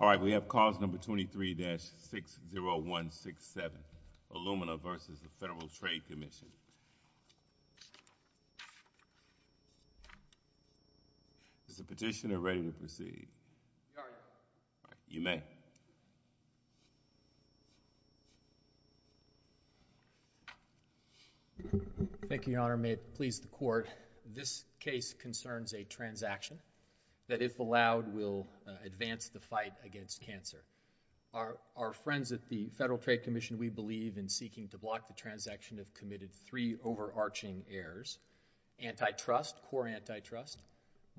Alright, we have clause number 23-60167, Illumina v. Federal Trade Commission. Is the petitioner ready to proceed? You may. Thank you, Your Honor. May it please the Court, this case concerns a transaction that, if allowed, will advance the fight against cancer. Our friends at the Federal Trade Commission, we believe in seeking to block the transaction of committed three overarching errors, antitrust, core antitrust,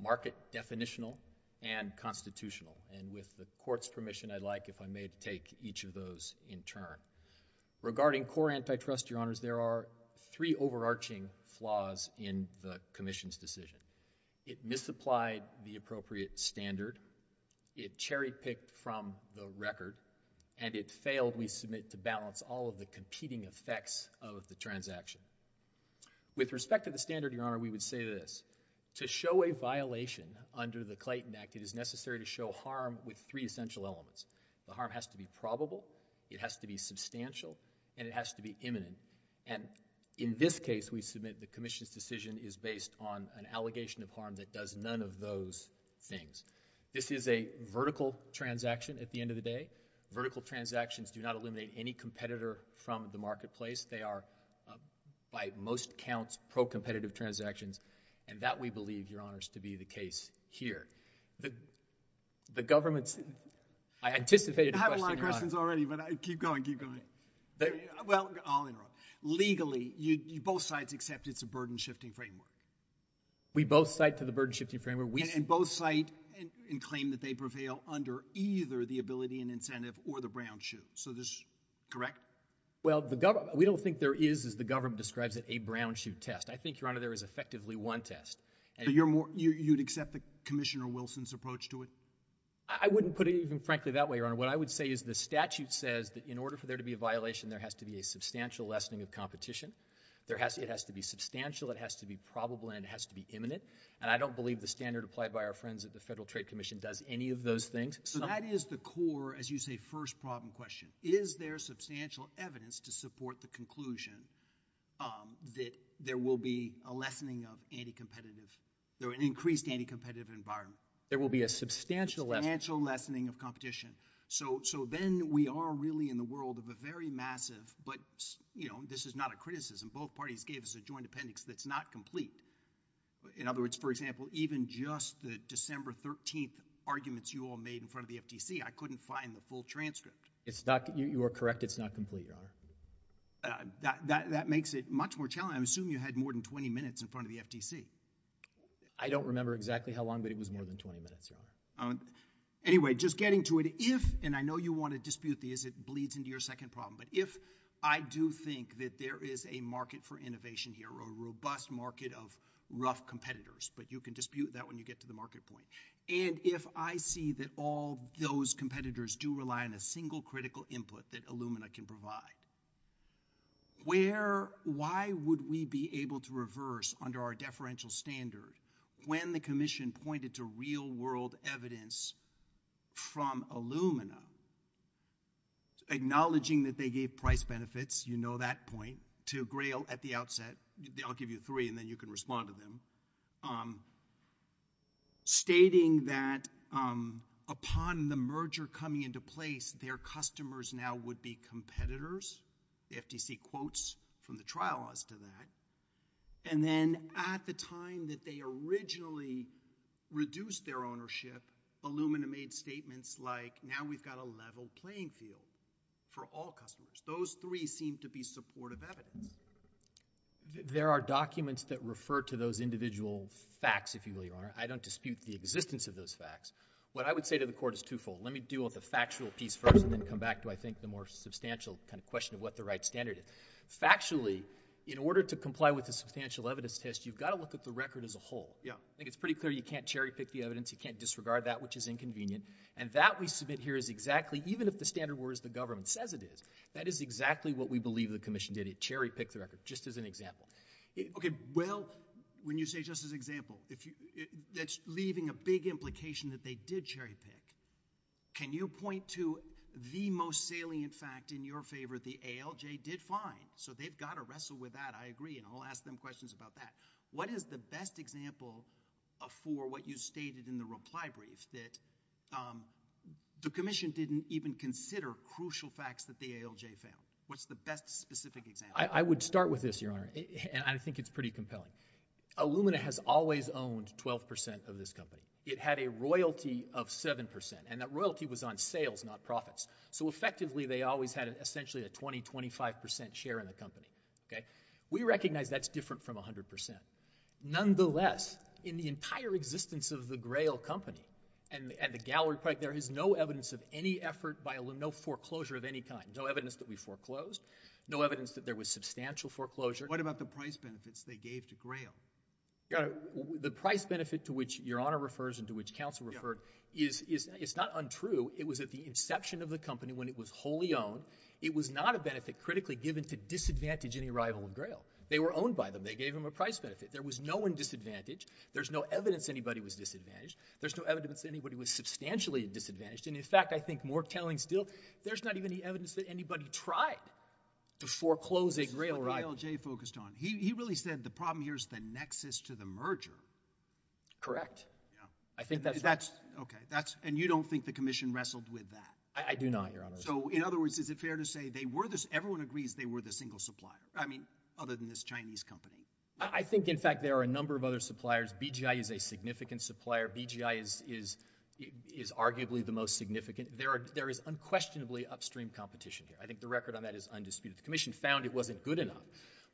market definitional, and constitutional. With the Court's permission, I'd like, if I may, to take each of those in turn. Regarding core antitrust, Your Honors, there are three overarching flaws in the Commission's decision. It misapplied the appropriate standard, it cherry-picked from the record, and it failed, we submit, to balance all of the competing effects of the transaction. With respect to the standard, Your Honor, we would say this. To show a violation under the Clayton Act, it is necessary to show harm with three essential elements. The harm has to be probable, it has to be substantial, and it has to be imminent. And in this case, we submit the Commission's decision is based on an allegation of harm that does none of those things. This is a vertical transaction at the end of the day. Vertical transactions do not eliminate any competitor from the marketplace. They are, by most counts, pro-competitive transactions, and that, we believe, Your Honors, to be the case here. The government's, I anticipated a question, Your Honor. I have a lot of questions already, but keep going, keep going. Well, I'll interrupt. Legally, both sides accept it's a burden-shifting framework. We both cite to the burden-shifting framework. And both cite and claim that they prevail under either the Ability and Incentive or the Brown-Chu. So this, correct? Well, the government, we don't think there is, as the government describes it, a Brown-Chu test. I think, Your Honor, there is effectively one test. But you're more, you'd accept Commissioner Wilson's approach to it? I wouldn't put it even frankly that way, Your Honor. What I would say is the statute says that in order for there to be a violation, there has to be a substantial lessening of competition. There has, it has to be substantial, it has to be probable, and it has to be imminent. And I don't believe the standard applied by our friends at the Federal Trade Commission does any of those things. So that is the core, as you say, first problem question. Is there substantial evidence to support the conclusion that there will be a lessening of anti-competitive, or an increased anti-competitive environment? There will be a substantial lessening. Substantial lessening of competition. So then we are really in the world of a very massive, but, you know, this is not a criticism. Both parties gave us a joint appendix that's not complete. In other words, for example, even just the December 13th arguments you all made in front of the FTC, I couldn't find the full transcript. It's not, you are correct, it's not complete, Your Honor. That makes it much more challenging. I assume you had more than 20 minutes in front of the FTC. I don't remember exactly how long, but it was more than 20 minutes, Your Honor. Anyway, just getting to it, if, and I know you want to dispute this, it bleeds into your second problem, but if I do think that there is a market for innovation here, a robust market of rough competitors, but you can dispute that when you get to the market point, and if I see that all those competitors do rely on a single critical input that Illumina can provide, where, why would we be able to reverse under our deferential standard when the commission pointed to real world evidence from Illumina, acknowledging that they gave price benefits, you know that point, to Grail at the outset, I'll give you three and then you can respond to them, stating that upon the merger coming into place, their customers now would be competitors, the FTC quotes from the trial as to that, and then at the time that they originally reduced their ownership, Illumina made statements like, now we've got a level playing field for all customers. Those three seem to be supportive evidence. There are documents that refer to those individual facts, if you will, Your Honor. I don't dispute the existence of those facts. What I would say to the Court is twofold. Let me deal with the factual piece first and then come back to, I think, the more substantial kind of question of what the right standard is. Factually, in order to comply with the substantial evidence test, you've got to look at the record as a whole. I think it's pretty clear you can't cherry pick the evidence, you can't disregard that, which is inconvenient, and that we submit here is exactly, even if the standard were as the government says it is, that is exactly what we believe the Commission did. It cherry picked the record, just as an example. Okay. Well, when you say just as an example, that's leaving a big implication that they did cherry pick. Can you point to the most salient fact in your favor, the ALJ did fine, so they've got to wrestle with that, I agree, and I'll ask them questions about that. What is the best example for what you stated in the reply brief, that the Commission didn't even consider crucial facts that the ALJ failed? What's the best specific example? I would start with this, Your Honor, and I think it's pretty compelling. Illumina has always owned 12 percent of this company. It had a royalty of 7 percent, and that royalty was on sales, not profits. So effectively, they always had essentially a 20-25 percent share in the company. Okay? We recognize that's different from 100 percent. Nonetheless, in the entire existence of the Grail Company and the gallery project, there is no evidence of any effort by Illumina, no foreclosure of any kind, no evidence that we foreclosed, no evidence that there was substantial foreclosure. What about the price benefits they gave to Grail? Your Honor, the price benefit to which Your Honor refers and to which counsel referred is not untrue. It was at the inception of the company when it was wholly owned. It was not a benefit critically given to disadvantage any rival in Grail. They were owned by them. They gave them a price benefit. There was no one disadvantaged. There's no evidence anybody was disadvantaged. There's no evidence anybody was substantially disadvantaged, and in fact, I think more telling still, there's not even any evidence that anybody tried to foreclose a Grail rival. This is what E.L.J. focused on. He really said the problem here is the nexus to the merger. Correct. Yeah. I think that's right. That's, okay, that's, and you don't think the Commission wrestled with that? I do not, Your Honor. So in other words, is it fair to say they were the, everyone agrees they were the single supplier, I mean, other than this Chinese company? I think in fact there are a number of other suppliers. BGI is a significant supplier. BGI is arguably the most significant. There is unquestionably upstream competition here. I think the record on that is undisputed. The Commission found it wasn't good enough.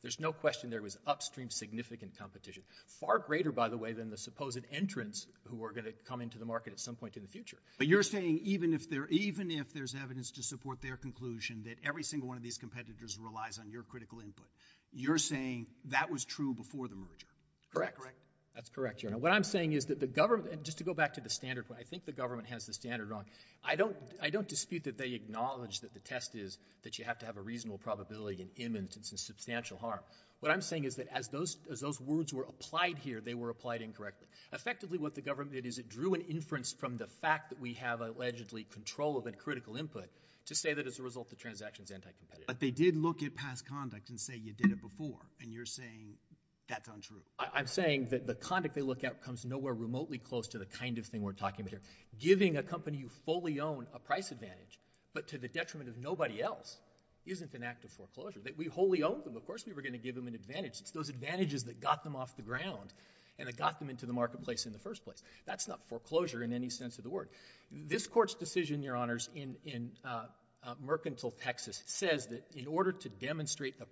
There's no question there was upstream significant competition, far greater, by the way, than the supposed entrants who are going to come into the market at some point in the future. But you're saying even if there's evidence to support their conclusion that every single one of these competitors relies on your critical input, you're saying that was true before the merger. Correct. Is that correct? That's correct, Your Honor. What I'm saying is that the government, and just to go back to the standard point, I think the government has the standard wrong. I don't dispute that they acknowledge that the test is that you have to have a reasonable probability and imminent and substantial harm. What I'm saying is that as those words were applied here, they were applied incorrectly. Effectively what the government did is it drew an inference from the fact that we have allegedly control of a critical input to say that as a result the transaction's anti-competitive. But they did look at past conduct and say you did it before, and you're saying that's untrue. I'm saying that the conduct they look at comes nowhere remotely close to the kind of thing we're talking about here. Giving a company you fully own a price advantage, but to the detriment of nobody else, isn't an act of foreclosure. That we wholly own them, of course we were going to give them an advantage. It's those advantages that got them off the ground and that got them into the marketplace in the first place. That's not foreclosure in any sense of the word. This Court's decision, Your Honors, in Mercantile, Texas, says that in order to demonstrate the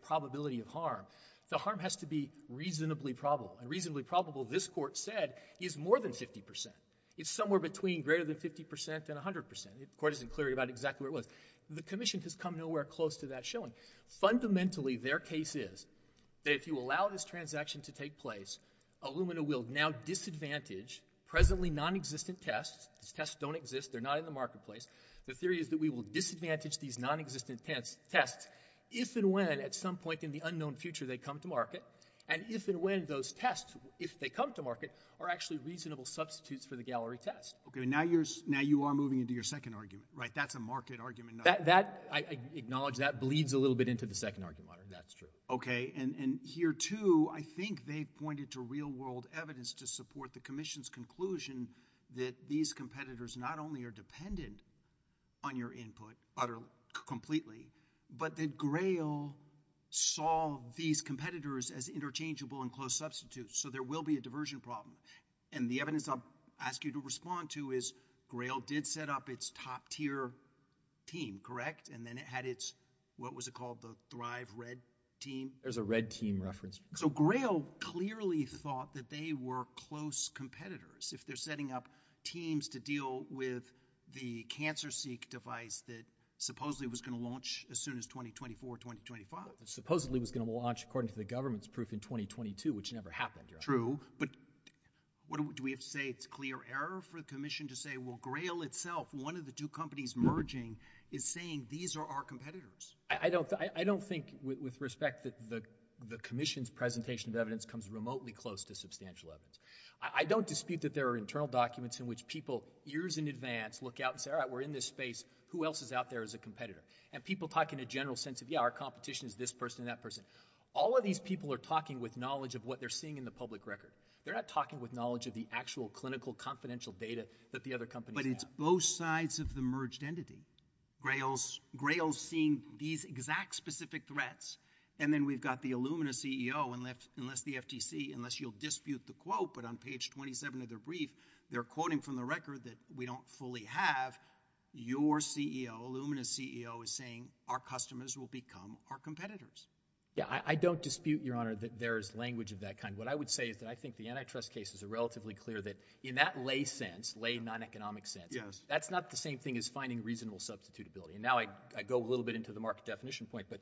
reasonable probable this Court said is more than 50 percent. It's somewhere between greater than 50 percent and 100 percent. The Court isn't clear about exactly where it was. The Commission has come nowhere close to that showing. Fundamentally, their case is that if you allow this transaction to take place, Illumina will now disadvantage presently nonexistent tests. These tests don't exist. They're not in the marketplace. The theory is that we will disadvantage these nonexistent tests if and when at some point in the unknown future they come to market. And if and when those tests, if they come to market, are actually reasonable substitutes for the gallery test. Okay. Now you're, now you are moving into your second argument, right? That's a market argument. That, that, I acknowledge that bleeds a little bit into the second argument. That's true. Okay. And, and here too, I think they pointed to real world evidence to support the Commission's conclusion that these competitors not only are dependent on your input utterly, completely, but that Grail saw these competitors as interchangeable and close substitutes. So there will be a diversion problem. And the evidence I'll ask you to respond to is Grail did set up its top tier team, correct? And then it had its, what was it called? The Thrive Red Team? There's a Red Team reference. So Grail clearly thought that they were close competitors. If they're setting up teams to launch as soon as 2024, 2025. Supposedly was going to launch, according to the government's proof, in 2022, which never happened. True. But what do we, do we have to say it's clear error for the Commission to say, well, Grail itself, one of the two companies merging, is saying these are our competitors. I don't, I don't think with respect that the, the Commission's presentation of evidence comes remotely close to substantial evidence. I don't dispute that there are internal documents in which people years in advance look out and say, all right, we're in this space. Who else is out there as a competitor? And people talk in a general sense of, yeah, our competition is this person and that person. All of these people are talking with knowledge of what they're seeing in the public record. They're not talking with knowledge of the actual clinical confidential data that the other companies have. But it's both sides of the merged entity. Grail's, Grail's seeing these exact specific threats. And then we've got the Illumina CEO and left, unless the FTC, unless you'll dispute the quote, but on page 27 of their brief, they're quoting from the record that we don't fully have. Your CEO, Illumina's CEO is saying our customers will become our competitors. Yeah, I, I don't dispute, Your Honor, that there is language of that kind. What I would say is that I think the antitrust cases are relatively clear that in that lay sense, lay non-economic sense. Yes. That's not the same thing as finding reasonable substitutability. And now I, I go a little bit into the market definition point. But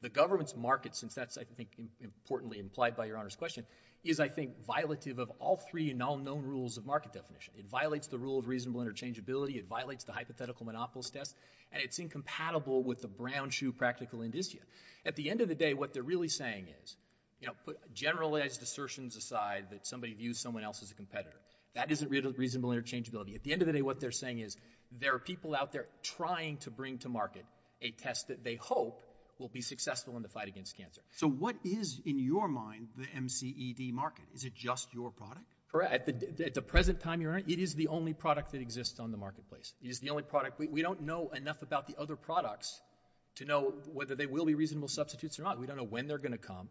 the government's market, since that's, I think, importantly implied by Your Honor's question, is I think violative of all three and all known rules of market definition. It violates the rule of reasonable interchangeability. It violates the hypothetical monopolist test. And it's incompatible with the brown shoe practical indicia. At the end of the day, what they're really saying is, you know, put generalized assertions aside that somebody views someone else as a competitor. That isn't really reasonable interchangeability. At the end of the day, what they're saying is there are people out there trying to bring to market a test that they hope will be successful in the fight against cancer. So what is, in your mind, the MCED market? Is it just your product? Correct. At the, at the present time, Your Honor, it is the only product that exists on the marketplace. It is the only product. We, we don't know enough about the other products to know whether they will be reasonable substitutes or not. We don't know when they're going to come.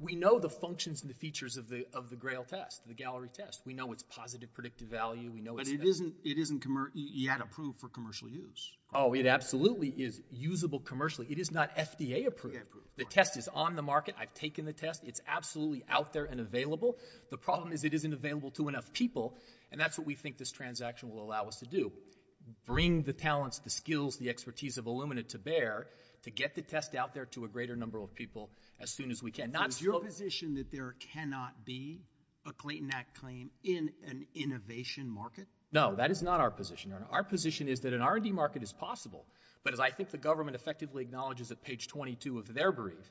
We know the functions and the features of the, of the GRAIL test, the gallery test. We know it's positive predictive value. We know it's... But it isn't, it isn't commer, yet approved for commercial use. Oh, it absolutely is usable commercially. It is not FDA approved. The test is on the market. I've taken the test. It's absolutely out there and available. The problem is it isn't available to enough people. And that's what we think this transaction will allow us to do. Bring the talents, the skills, the expertise of Illumina to bear to get the test out there to a greater number of people as soon as we can. Not so... Is your position that there cannot be a Clayton Act claim in an innovation market? No, that is not our position, Your Honor. Our position is that an R&D market is possible. But as I think the government effectively acknowledges at page 22 of their brief,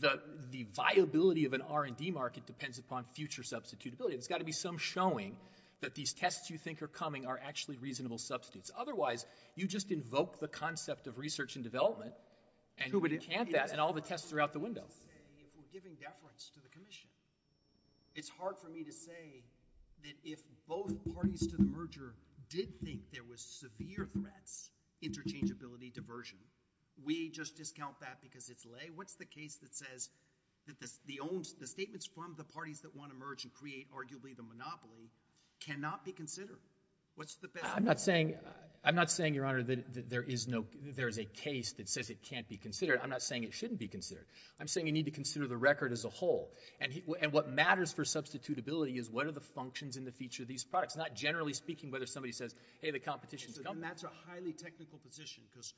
the, the viability of an R&D market depends upon future substitutability. There's got to be some showing that these tests you think are coming are actually reasonable substitutes. Otherwise, you just invoke the concept of research and development and... Who would encamp that in all the tests throughout the window? I mean, we're giving deference to the Commission. It's hard for me to say that if both parties to the merger did think there was severe threats, interchangeability, diversion, we just discount that because it's lay. What's the case that says that the, the own, the statements from the parties that want to merge and create arguably the monopoly cannot be considered? What's the best... I'm not saying, I'm not saying, Your Honor, that there is no, there is a case that says it can't be considered. I'm not saying it shouldn't be considered. I'm saying you need to consider the record as a whole. And he, and what matters for substitutability is what are the functions and the feature of these products. Not generally speaking whether somebody says, hey, the competition's coming. And that's a highly technical position because,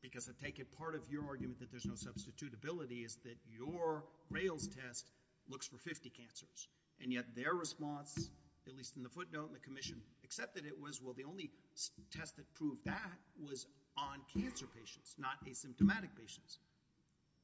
because I take it part of your argument that there's no substitutability is that your rails test looks for 50 cancers. And yet their response, at least in the footnote, the Commission accepted it was, well, the only test that proved that was on cancer patients, not asymptomatic patients.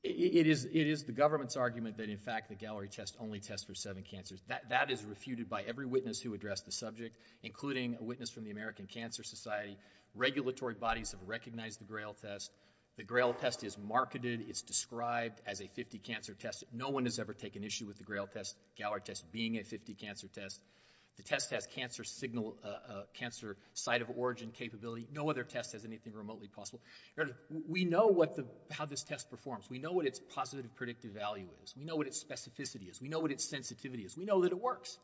It is, it is the government's argument that in fact the gallery test only tests for seven cancers. That, that is refuted by every witness who addressed the subject, including a witness from the American Cancer Society. Regulatory bodies have recognized the GRAIL test. The GRAIL test is marketed, it's described as a 50 cancer test. No one has ever taken issue with the GRAIL test, gallery test, being a 50 cancer test. The test has cancer signal, cancer site of origin capability. No other test has anything remotely possible. Your Honor, we know what the, how this test performs. We know what its positive predictive value is. We know what its specificity is. We know what its sensitivity is. We know that it works.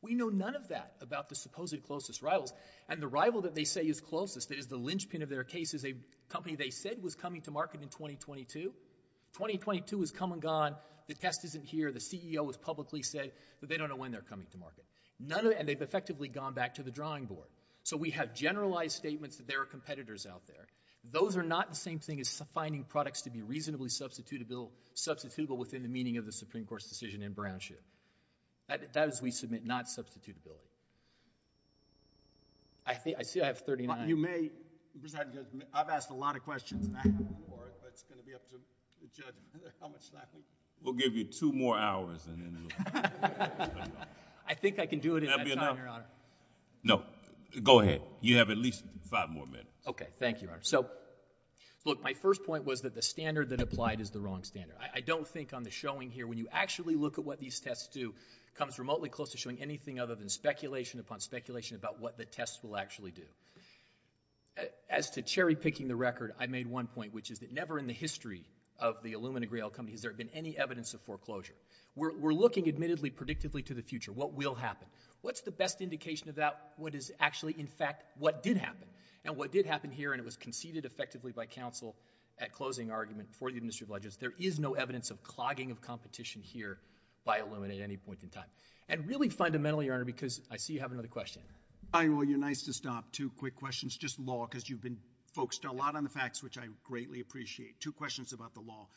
We know none of that about the supposed closest rivals. And the rival that they say is closest, that is the linchpin of their case, is a company they said was coming to market in 2022. 2022 has come and gone. The test isn't here. The CEO has publicly said that they don't know when they're coming to market. None of it, and they've effectively gone back to the drawing board. So we have generalized statements that there are competitors out there. Those are not the same thing as finding products to be reasonably substitutable within the meaning of the Supreme Court's decision in Brownship. That is, we submit not substitutability. I think, I see I have 39. You may, I've asked a lot of questions, but it's going to be up to the judge how much time. We'll give you two more hours. I think I can do it in that time, Your Honor. No, go ahead. You have at least five more minutes. Okay. Thank you, Your Honor. So look, my first point was that the standard that applied is the wrong standard. I don't think on the showing here, when you actually look at what these tests do, it comes remotely close to showing anything other than speculation upon speculation about what the tests will actually do. As to cherry picking the record, I made one point, which is that never in the history of the Illumina Grail company has there been any evidence of foreclosure. We're looking admittedly predictably to the future. What will happen? What's the best indication of that? What is actually in fact what did happen? And what did happen here, and it was conceded effectively by counsel at closing argument for the industry of ledgers. There is no evidence of clogging of competition here by Illumina at any point in time. And really fundamentally, Your Honor, because I see you have another question. Well, you're nice to stop. Two quick questions. Just law, because you've been focused a lot on the facts, which I greatly appreciate. Two questions about the law.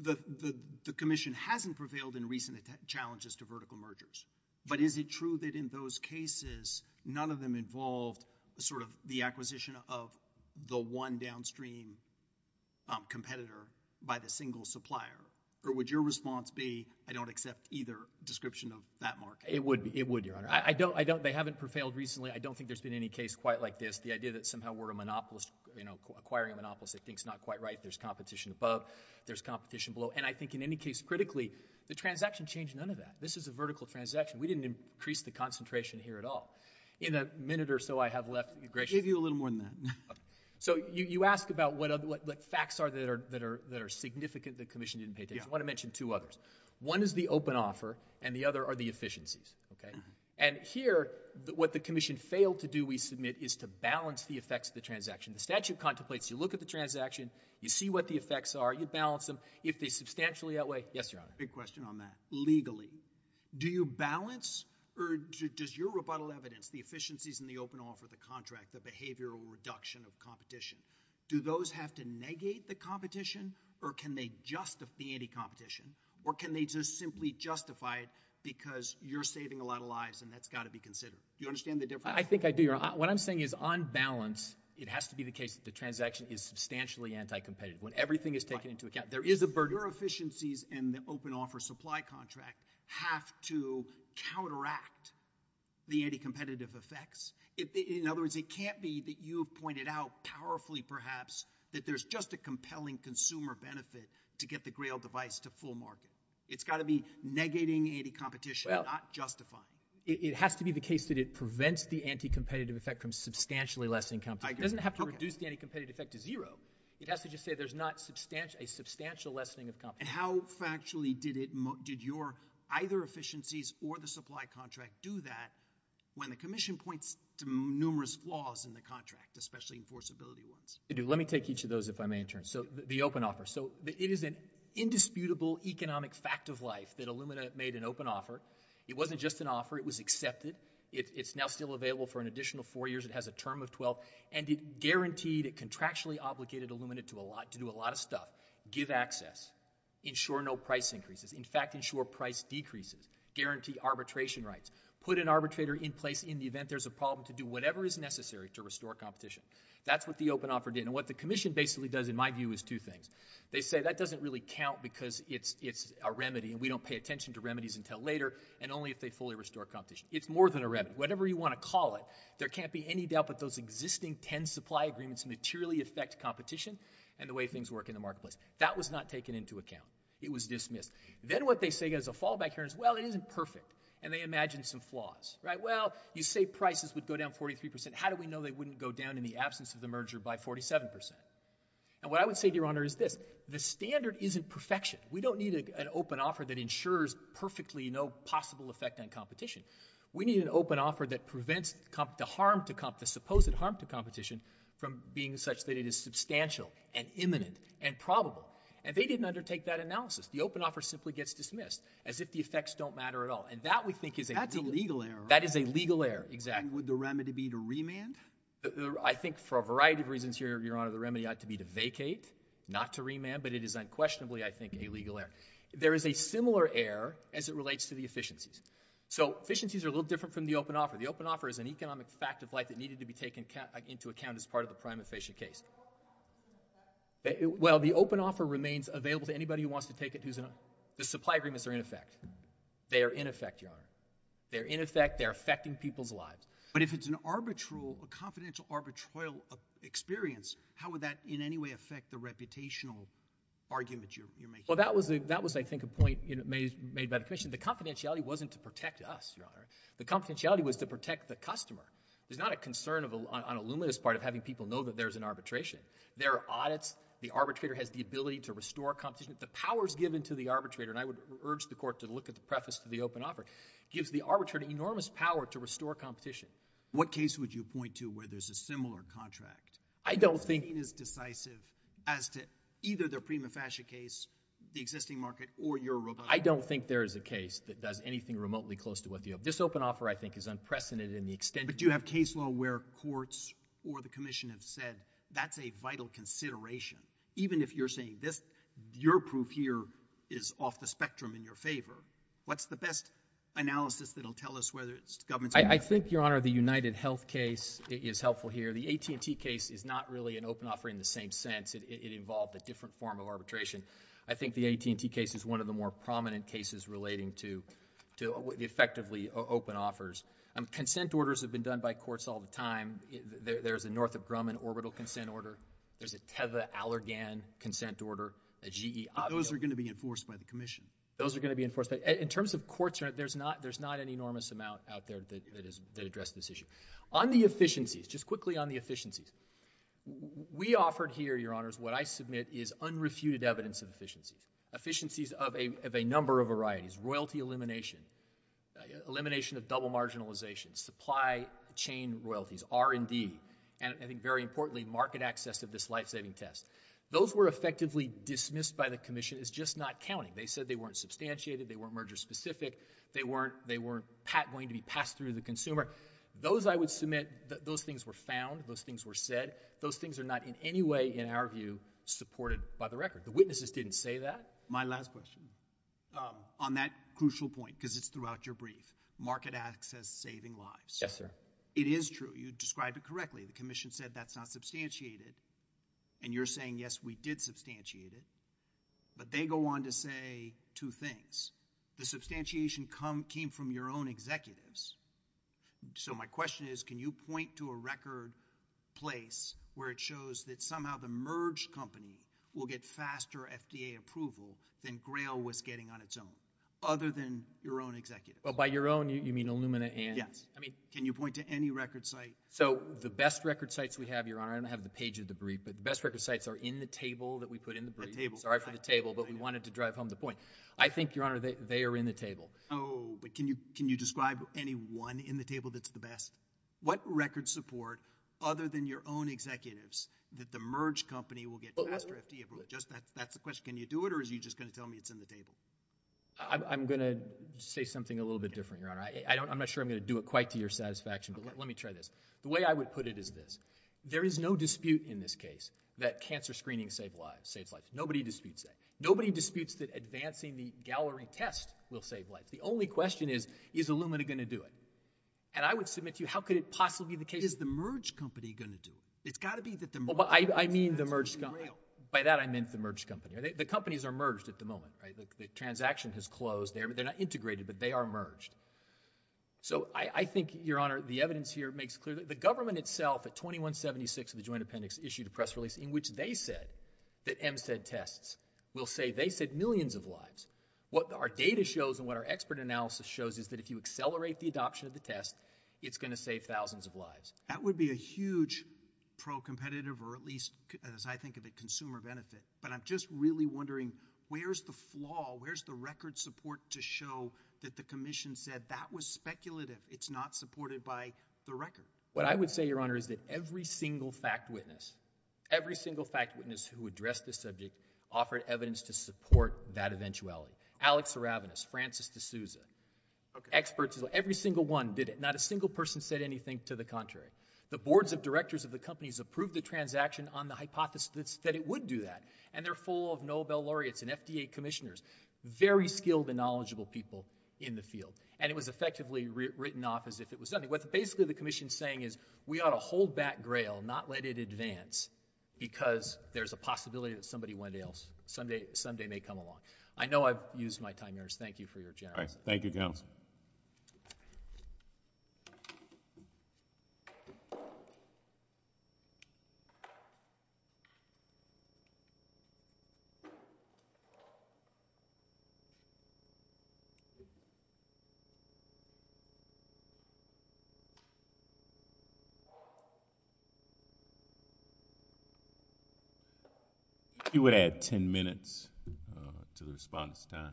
The commission hasn't prevailed in recent challenges to vertical mergers, but is it true that in those cases none of them involved sort of the acquisition of the one downstream competitor by the single supplier? Or would your response be, I don't accept either description of that market? It would be. It would, Your Honor. I don't, I don't, they haven't prevailed recently. I don't think there's been any case quite like this. The idea that somehow we're a monopolist, you know, acquiring a monopolist, I think is not quite right. There's competition above. There's competition below. And I think in any case critically, the transaction changed none of that. This is a vertical transaction. We didn't increase the concentration here at all. In a minute or so I have left, you're gracious. Maybe a little more than that. So you, you ask about what other, what, what facts are that are, that are, that are significant that commission didn't pay attention. I want to mention two others. One is the open offer and the other are the efficiencies. Okay. And here, what the commission failed to do, we submit, is to balance the effects of the transaction. The statute contemplates, you look at the transaction, you see what the effects are, you balance them. If they substantially outweigh, yes, Your Honor. Big question on that. Legally, do you balance or does your rebuttal evidence, the efficiencies and the open offer, the contract, the behavioral reduction of competition, do those have to negate the competition or can they justify the anti-competition or can they just simply justify it because you're saving a lot of lives and that's got to be considered? Do you understand the difference? I think I do, Your Honor. What I'm saying is on balance, it has to be the case that the transaction is substantially anti-competitive. When everything is taken into account, there is a burden. Your efficiencies and the open offer supply contract have to counteract the anti-competitive effects. In other words, it can't be that you pointed out powerfully, perhaps, that there's just a compelling consumer benefit to get the Grail device to full market. It's got to be negating anti-competition, not justifying. It has to be the case that it prevents the anti-competitive effect from substantially lessening competition. It doesn't have to reduce the anti-competitive effect to zero. It has to just say there's not a substantial lessening of competition. And how factually did your either efficiencies or the supply contract do that when the commission points to numerous flaws in the contract, especially enforceability ones? Let me take each of those if I may in turn. So the open offer. So it is an indisputable economic fact of life that Illumina made an open offer. It wasn't just an offer. It was accepted. It's now still available for an additional four years. It has a term of 12. And it guaranteed it contractually obligated Illumina to do a lot of stuff. Give access. Ensure no price increases. In fact, ensure price decreases. Guarantee arbitration rights. Put an arbitrator in place in the event there's a problem to do whatever is necessary to restore competition. That's what the open offer did. And what the commission basically does, in my view, is two things. They say that doesn't really count because it's a remedy, and we don't pay attention to remedies until later, and only if they fully restore competition. It's more than a remedy. Whatever you want to call it, there can't be any doubt that those existing 10 supply agreements materially affect competition and the way things work in the marketplace. That was not taken into account. It was dismissed. Then what they say as a fallback here is, well, it isn't perfect. And they imagine some flaws. Right? Well, you say prices would go down 43%. How do we know they wouldn't go down in the absence of the merger by 47%? And what I would say, Your Honor, is this. The standard isn't perfection. We don't need an open offer that ensures perfectly no possible effect on competition. We need an open offer that prevents the supposed harm to competition from being such that it is substantial and imminent and probable. And they didn't undertake that analysis. The open offer simply gets dismissed as if the effects don't matter at all. And that, we think, is a legal error. That is a legal error. Exactly. And would the remedy be to remand? I think for a variety of reasons here, Your Honor, the remedy ought to be to vacate, not to remand. But it is unquestionably, I think, a legal error. There is a similar error as it relates to the efficiencies. So efficiencies are a little different from the open offer. The open offer is an economic fact of life that needed to be taken into account as part of the prime efficient case. Well, the open offer remains available to anybody who wants to take it. The supply agreements are in effect. They are in effect, Your Honor. They're in effect. They're affecting people's lives. But if it's an arbitral, a confidential arbitral experience, how would that in any way affect the reputational argument you're making? Well, that was, I think, a point made by the commission. The confidentiality wasn't to protect us, Your Honor. The confidentiality was to protect the customer. There's not a concern on a luminous part of having people know that there's an arbitration. There are audits. The arbitrator has the ability to restore competition. The powers given to the arbitrator, and I would urge the court to look at the preface to the open offer, gives the arbitrator enormous power to restore competition. What case would you point to where there's a similar contract? I don't think— I don't think there is a case that does anything remotely close to what you have. This open offer, I think, is unprecedented in the extent— But do you have case law where courts or the commission have said, that's a vital consideration? Even if you're saying this, your proof here is off the spectrum in your favor, what's the best analysis that'll tell us whether it's the government's— I think, Your Honor, the UnitedHealth case is helpful here. The AT&T case is not really an open offer in the same sense. It involved a different form of arbitration. I think the AT&T case is one of the more prominent cases relating to effectively open offers. Consent orders have been done by courts all the time. There's a Northrop Grumman orbital consent order. There's a Teva Allergan consent order, a GE— But those are going to be enforced by the commission. Those are going to be enforced. In terms of courts, there's not an enormous amount out there that address this issue. On the efficiencies, just quickly on the efficiencies, we offered here, Your Honors, what I submit is unrefuted evidence of efficiencies. Efficiencies of a number of varieties, royalty elimination, elimination of double marginalization, supply chain royalties, R&D, and I think very importantly, market access of this life-saving test. Those were effectively dismissed by the commission as just not counting. They said they weren't passed through the consumer. Those, I would submit, those things were found. Those things were said. Those things are not in any way, in our view, supported by the record. The witnesses didn't say that. My last question. On that crucial point, because it's throughout your brief, market access saving lives. Yes, sir. It is true. You described it correctly. The commission said that's not substantiated, and you're saying, yes, we did substantiate it, but they go on to say two things. The So my question is, can you point to a record place where it shows that somehow the merged company will get faster FDA approval than Grail was getting on its own, other than your own executives? Well, by your own, you mean Illumina and— Yes. I mean— Can you point to any record site? So the best record sites we have, Your Honor, I don't have the page of the brief, but the best record sites are in the table that we put in the brief. The table. Sorry for the table, but we wanted to drive home the point. I think, Your Honor, they are in the table. Oh, but can you describe any one in the table that's the best? What record support, other than your own executives, that the merged company will get faster FDA approval? That's the question. Can you do it, or are you just going to tell me it's in the table? I'm going to say something a little bit different, Your Honor. I'm not sure I'm going to do it quite to your satisfaction, but let me try this. The way I would put it is this. There is no dispute in this case that cancer screening saves lives. Nobody disputes that. Advancing the gallery test will save lives. The only question is, is Illumina going to do it? And I would submit to you, how could it possibly be the case— Is the merged company going to do it? It's got to be that the merged company— I mean the merged company. By that, I meant the merged company. The companies are merged at the moment, right? The transaction has closed. They're not integrated, but they are merged. So I think, Your Honor, the evidence here makes clear that the government itself at 2176 of the Joint Appendix issued a press release in which they said that MSED tests will save—they said millions of lives. What our data shows and what our expert analysis shows is that if you accelerate the adoption of the test, it's going to save thousands of lives. That would be a huge pro-competitive or at least, as I think of it, consumer benefit. But I'm just really wondering, where's the flaw? Where's the record support to show that the Commission said that was speculative? It's not supported by the record. What I would say, Your Honor, is that every single fact witness, every single fact witness who addressed this subject offered evidence to support that eventuality. Alex Aravinas, Francis D'Souza, experts, every single one did it. Not a single person said anything to the contrary. The boards of directors of the companies approved the transaction on the hypothesis that it would do that. And they're full of Nobel laureates and FDA commissioners, very skilled and knowledgeable people in the field. And it was effectively written off as if it was nothing. What basically the Commission's saying is, we ought to hold back grail, not let it advance, because there's a possibility that somebody one day else, someday may come along. I know I've used my time, Your Honor, so thank you for your generosity. I think you would add 10 minutes to the response time.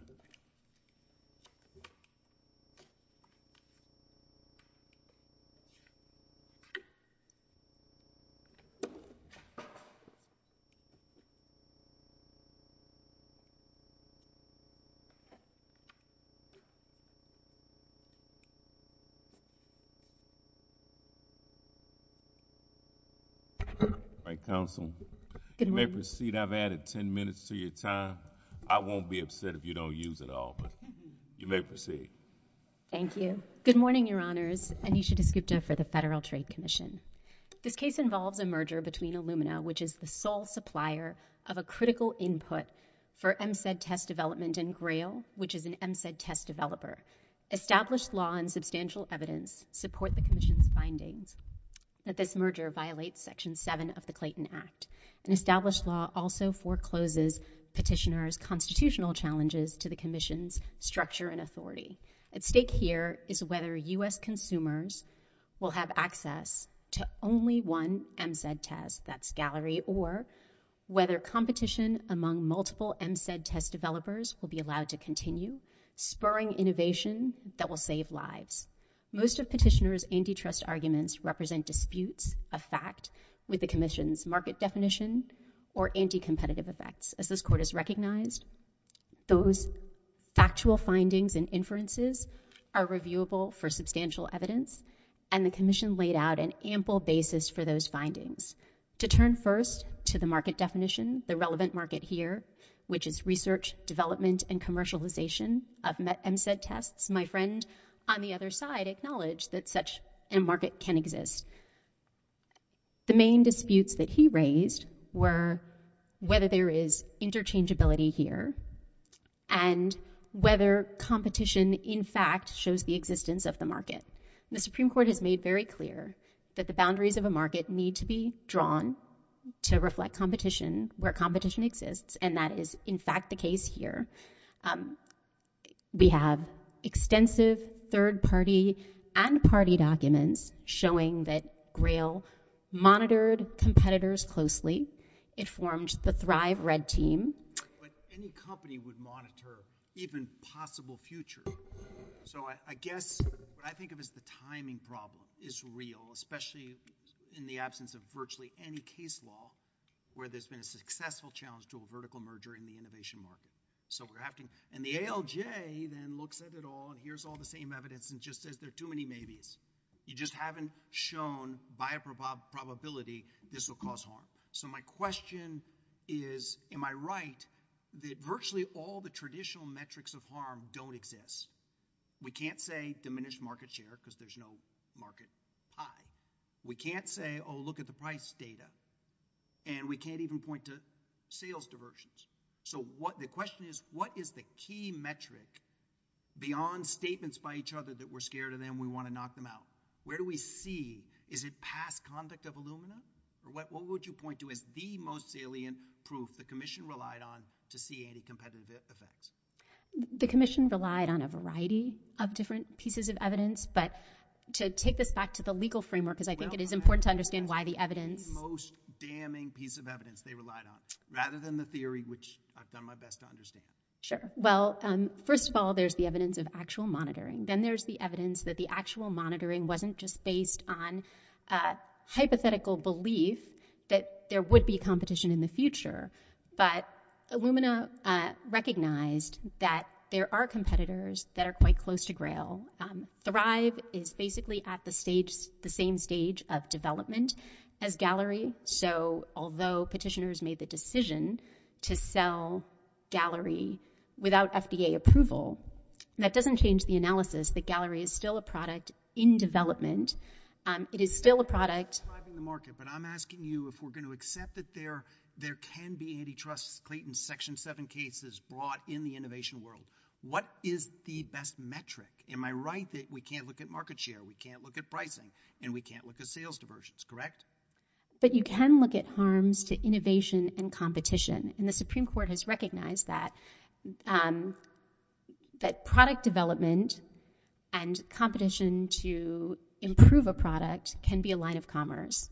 All right, counsel. You may proceed. I've added 10 minutes to your time. I won't be using it all, but you may proceed. Thank you. Good morning, Your Honors. Anisha Desgupta for the Federal Trade Commission. This case involves a merger between Illumina, which is the sole supplier of a critical input for MSED test development, and Grail, which is an MSED test developer. Established law and substantial evidence support the Commission's findings that this merger violates Section 7 of the Clayton Act. And established law also forecloses petitioners' constitutional challenges to the Commission's structure and authority. At stake here is whether U.S. consumers will have access to only one MSED test, that's Gallery, or whether competition among multiple MSED test developers will be allowed to continue, spurring innovation that will save lives. Most of petitioners' antitrust arguments represent disputes of fact with the Commission's market definition or anti-competitive effects. As this Court has recognized, those factual findings and inferences are reviewable for substantial evidence, and the Commission laid out an ample basis for those findings. To turn first to the market definition, the relevant market here, which is research, development, and commercialization of MSED tests, my friend on the other side acknowledged that such a market can exist. The main disputes that he raised were whether there is interchangeability here, and whether competition in fact shows the existence of the market. The Supreme Court has made very clear that the boundaries of a market need to be drawn to reflect competition where competition exists, and that is in fact the case here. We have extensive third-party and party documents showing that Grail monitored competitors closely. It formed the Thrive Red Team. But any company would monitor even possible future. So I guess what I think of as the timing problem is real, especially in the absence of virtually any case law where there's been a successful challenge to a vertical merger in the innovation market. And the ALJ then looks at it all and hears all the same evidence and just says there are too many maybes. You just haven't shown by a probability this will cause harm. So my question is, am I right that virtually all the traditional metrics of harm don't exist? We can't say diminished market share because there's no market pie. We can't say, oh, look at the price data. And we can't even point to sales diversions. So the question is, what is the key metric beyond statements by each other that we're scared of them, we want to knock them out? Where do we see? Is it past conduct of Illumina? Or what would you point to as the most salient proof the Commission relied on to see any competitive effects? The Commission relied on a variety of different pieces of evidence. But to take this back to the legal framework, because I think it is important to understand why the evidence Most damning piece of evidence they relied on, rather than the theory, which I've done my best to understand. Sure. Well, first of all, there's the evidence of actual monitoring. Then there's the evidence that the actual monitoring wasn't just based on a hypothetical belief that there would be competition in the future. But Illumina recognized that there are competitors that are quite close to grail. Thrive is basically at the same stage of development as Gallery. So although petitioners made the decision to sell Gallery without FDA approval, that doesn't change the analysis that Gallery is still a product in development. It is still a product Thriving the market. But I'm asking you if we're going to accept that there can be antitrust claims in Section 7 cases brought in the innovation world. What is the best metric? Am I right that we can't look at market share, we can't look at pricing, and we can't look at sales diversions, correct? But you can look at harms to innovation and competition. And the Supreme Court has recognized that product development and competition to improve a product can be a line of commerce.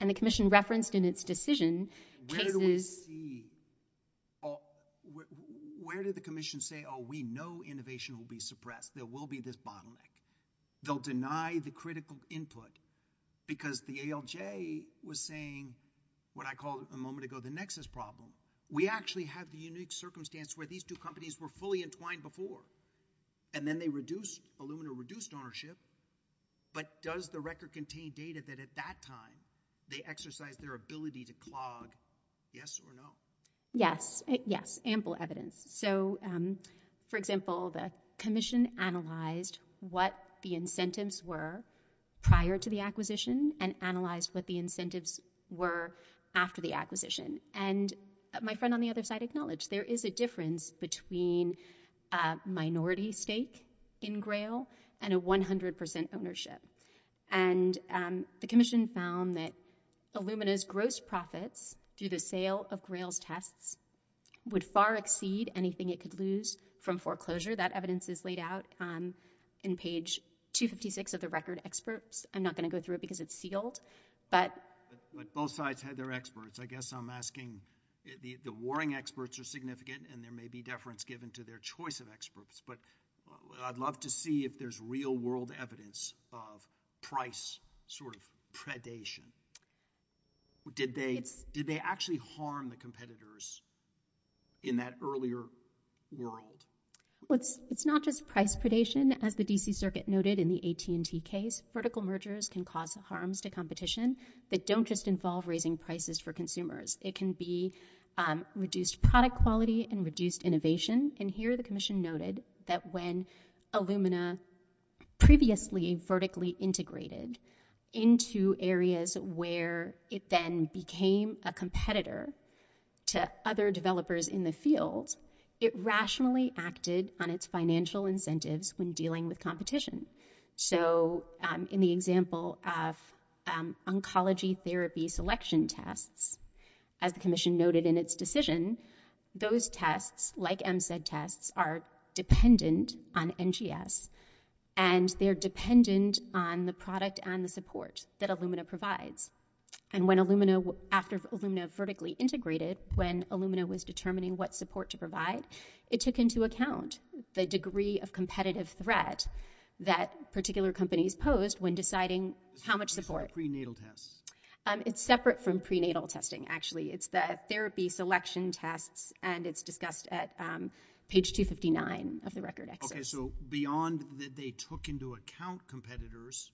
And the Commission referenced in its decision cases I see. Where did the Commission say, oh, we know innovation will be suppressed, there will be this bottleneck. They'll deny the critical input. Because the ALJ was saying what I called a moment ago the nexus problem. We actually have the unique circumstance where these two companies were fully entwined before. And then they reduced Illumina reduced ownership. But does the record contain data that at that time they exercised their ability to clog up? Yes or no? Yes. Yes. Ample evidence. So for example, the Commission analyzed what the incentives were prior to the acquisition and analyzed what the incentives were after the acquisition. And my friend on the other side acknowledged there is a difference between minority stake in Grail and a 100% ownership. And the Commission found that Illumina's gross profits were through the sale of Grail's tests would far exceed anything it could lose from foreclosure. That evidence is laid out in page 256 of the record experts. I'm not going to go through it because it's sealed. But both sides had their experts. I guess I'm asking the warring experts are significant and there may be deference given to their choice of experts. But I'd love to see if there's real world evidence of price sort of predation. Did they actually harm the competitors in that earlier world? It's not just price predation as the D.C. Circuit noted in the AT&T case. Vertical mergers can cause harms to competition that don't just involve raising prices for consumers. It can be reduced product quality and reduced innovation. And here the Commission noted that when Illumina previously vertically integrated into areas where it then became a competitor to other developers in the field, it rationally acted on its financial incentives when dealing with competition. So in the example of oncology therapy selection tests, as the Commission noted in its decision, those tests, like MSED tests, are dependent on NGS. And they're dependent on the product and the support that Illumina provides. And when Illumina, after Illumina vertically integrated, when Illumina was determining what support to provide, it took into account the degree of competitive threat that particular companies posed when deciding how much support. It's separate from prenatal testing, actually. It's the therapy selection tests and it's discussed at page 259 of the record. Okay, so beyond that they took into account competitors,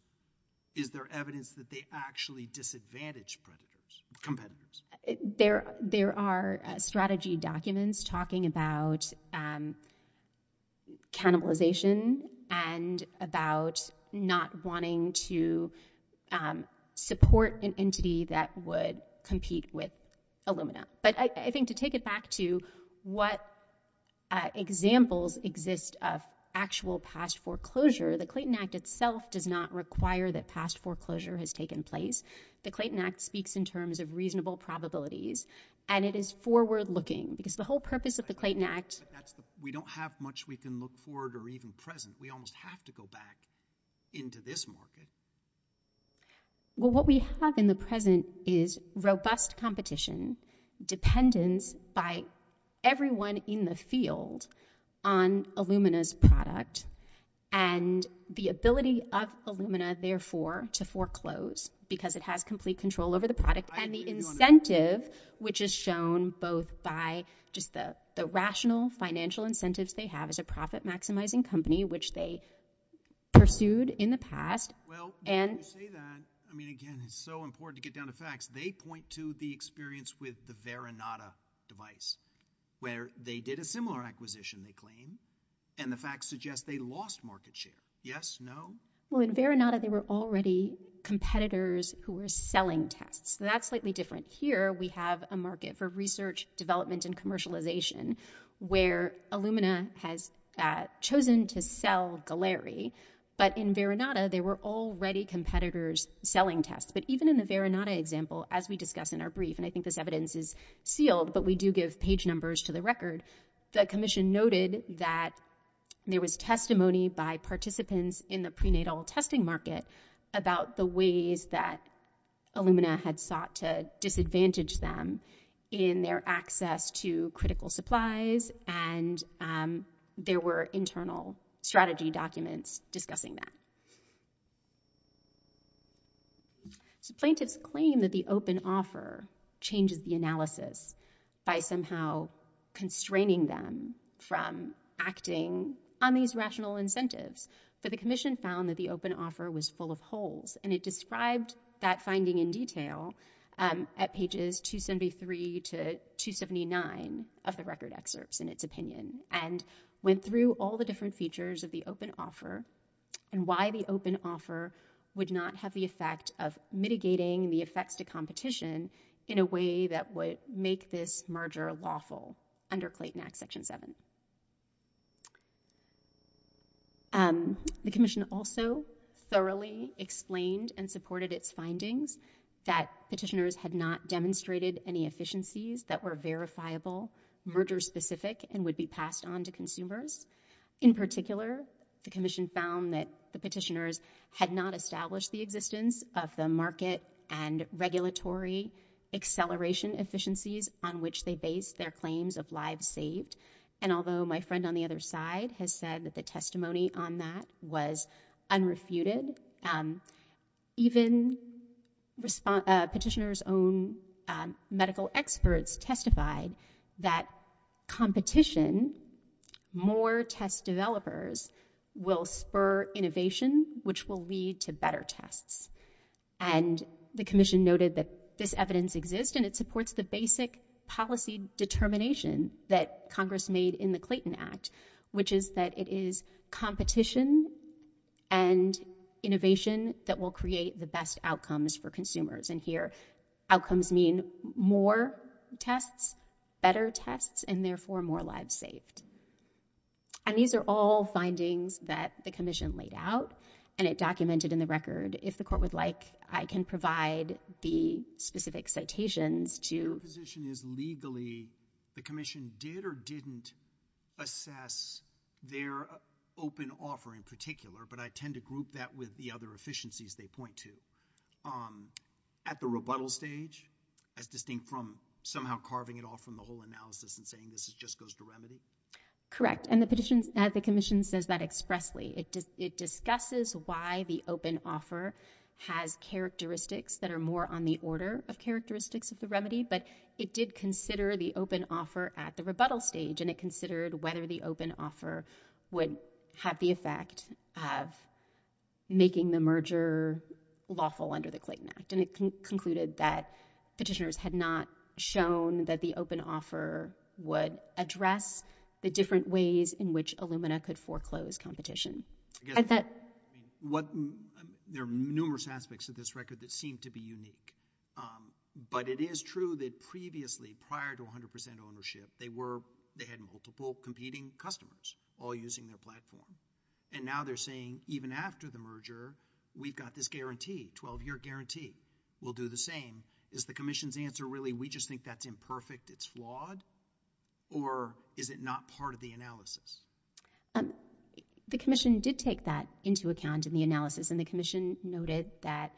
is there evidence that they actually disadvantaged competitors? There are strategy documents talking about cannibalization and about not wanting to support an entity that would compete with Illumina. But I think to take it back to what examples exist of actual past foreclosure, the Clayton Act itself does not require that past foreclosure has taken place. The Clayton Act speaks in terms of reasonable probabilities and it is forward-looking because the whole purpose of the Clayton Act... We don't have much we can look forward or even present. We almost have to go back into this market. Well, what we have in the present is robust competition, dependence by everyone in the market on Illumina's product and the ability of Illumina, therefore, to foreclose because it has complete control over the product and the incentive, which is shown both by just the rational financial incentives they have as a profit-maximizing company, which they pursued in the past. Well, when you say that, I mean, again, it's so important to get down to facts. They point to the experience with the Veronata device where they did a similar acquisition, they claim, and the facts suggest they lost market share. Yes? No? Well, in Veronata, there were already competitors who were selling tests. That's slightly different. Here we have a market for research, development, and commercialization where Illumina has chosen to sell Galeri, but in Veronata, there were already competitors selling tests. But even in the Veronata example, as we discuss in our brief, and I think this evidence is sealed, but we do give page numbers to the record, the commission noted that there was testimony by participants in the prenatal testing market about the ways that Illumina had sought to disadvantage them in their access to critical supplies, and there were internal strategy documents discussing that. So plaintiffs claim that the open offer changes the analysis by somehow constraining them from acting on these rational incentives, but the commission found that the open offer was full of holes, and it described that finding in detail at pages 273 to 279 of the record excerpts in its opinion, and went through all the different features of the open offer and why the open offer would not have the effect of mitigating the effects to competition in a way that would make this merger lawful under Clayton Act Section 7. The commission also thoroughly explained and supported its findings that petitioners had not demonstrated any efficiencies that were verifiable, merger-specific, and would be found that the petitioners had not established the existence of the market and regulatory acceleration efficiencies on which they based their claims of lives saved, and although my friend on the other side has said that the testimony on that was unrefuted, even petitioners' own medical experts testified that competition, more test developers will spur innovation, which will lead to better tests, and the commission noted that this evidence exists and it supports the basic policy determination that Congress made in the Clayton Act, which is that it is competition and innovation that will create the best outcomes for consumers, and here outcomes mean more tests, better tests, and therefore more lives saved, and these are all findings that the commission laid out and it documented in the record. If the court would like, I can provide the specific citations to Your position is legally the commission did or didn't assess their open offer in particular, but I tend to group that with the other efficiencies they point to. At the rebuttal stage, as distinct from somehow carving it off from the whole analysis and saying this just goes to remedy? Correct, and the commission says that expressly. It discusses why the open offer has characteristics that are more on the order of characteristics of the remedy, but it did consider the open offer at the rebuttal stage, and it considered whether the open offer would have the effect of making the merger lawful under the Clayton Act, and it concluded that petitioners had not shown that the open offer would address the different ways in which Illumina could foreclose competition. There are numerous aspects of this record that seem to be unique, but it is true that previously, prior to 100 percent ownership, they had multiple competing customers all using their platform, and now they're saying even after the merger, we've got this guarantee, 12-year guarantee. We'll do the same. Is the commission's answer really we just think that's imperfect, it's flawed, or is it not part of the analysis? The commission did take that into account in the analysis, and the commission noted that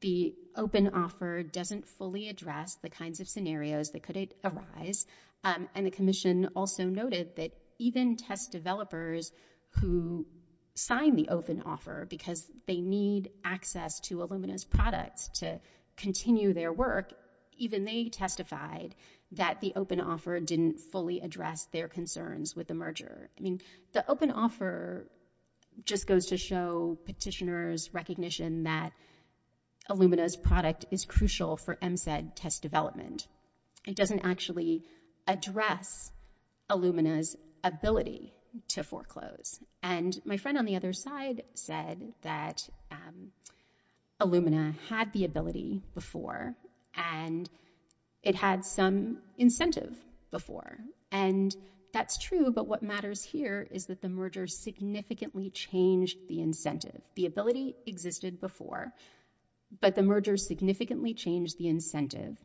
the open offer doesn't fully address the kinds of scenarios that could arise, and the commission also noted that even test developers who sign the open offer because they need access to Illumina's products to continue their work, even they testified that the open offer didn't fully address their concerns with the merger. I mean, the open offer just goes to show petitioners' recognition that Illumina's product is crucial for MSED test development. It doesn't actually address Illumina's ability to foreclose, and my friend on the other side said that Illumina had the ability before, and it had some incentive before, and that's true, but what matters here is that the merger significantly changed the incentive. The ability existed before, but the merger significantly changed the incentive,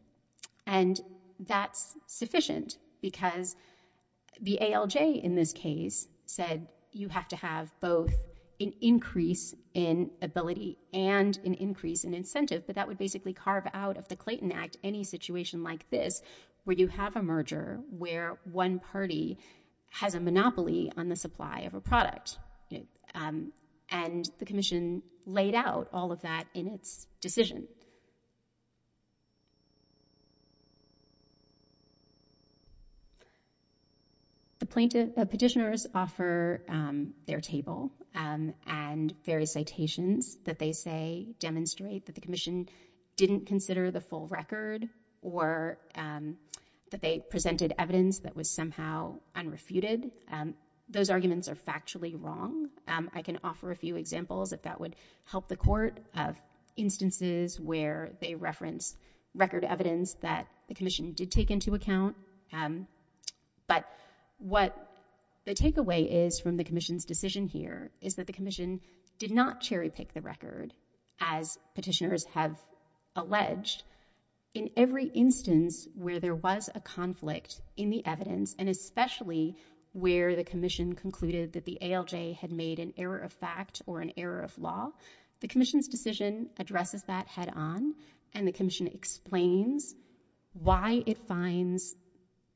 and that's sufficient because the ALJ in this case said you have to have both an increase in ability and an increase in incentive, but that would basically carve out of the Clayton Act any situation like this where you have a merger where one party has a monopoly on the supply of a product, and the commission laid out all of that in its decision. The petitioners offer their table and various citations that they say demonstrate that the or that they presented evidence that was somehow unrefuted. Those arguments are factually wrong. I can offer a few examples if that would help the court of instances where they reference record evidence that the commission did take into account, but what the takeaway is from the commission's decision here is that the commission did not cherry pick the record as petitioners have alleged. In every instance where there was a conflict in the evidence and especially where the commission concluded that the ALJ had made an error of fact or an error of law, the commission's decision addresses that head on, and the commission explains why it finds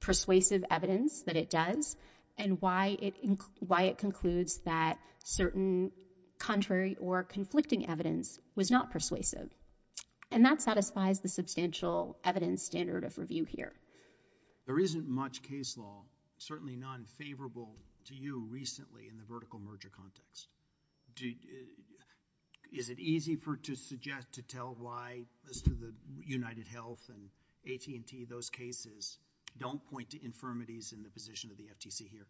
persuasive evidence that it does and why it concludes that certain contrary or conflicting evidence was not persuasive, and that satisfies the substantial evidence standard of review here. There isn't much case law, certainly non-favorable to you recently in the vertical merger context. Is it easy to suggest to tell why, as to the United Health and AT&T, those cases don't point to infirmities in the position of the FTC here?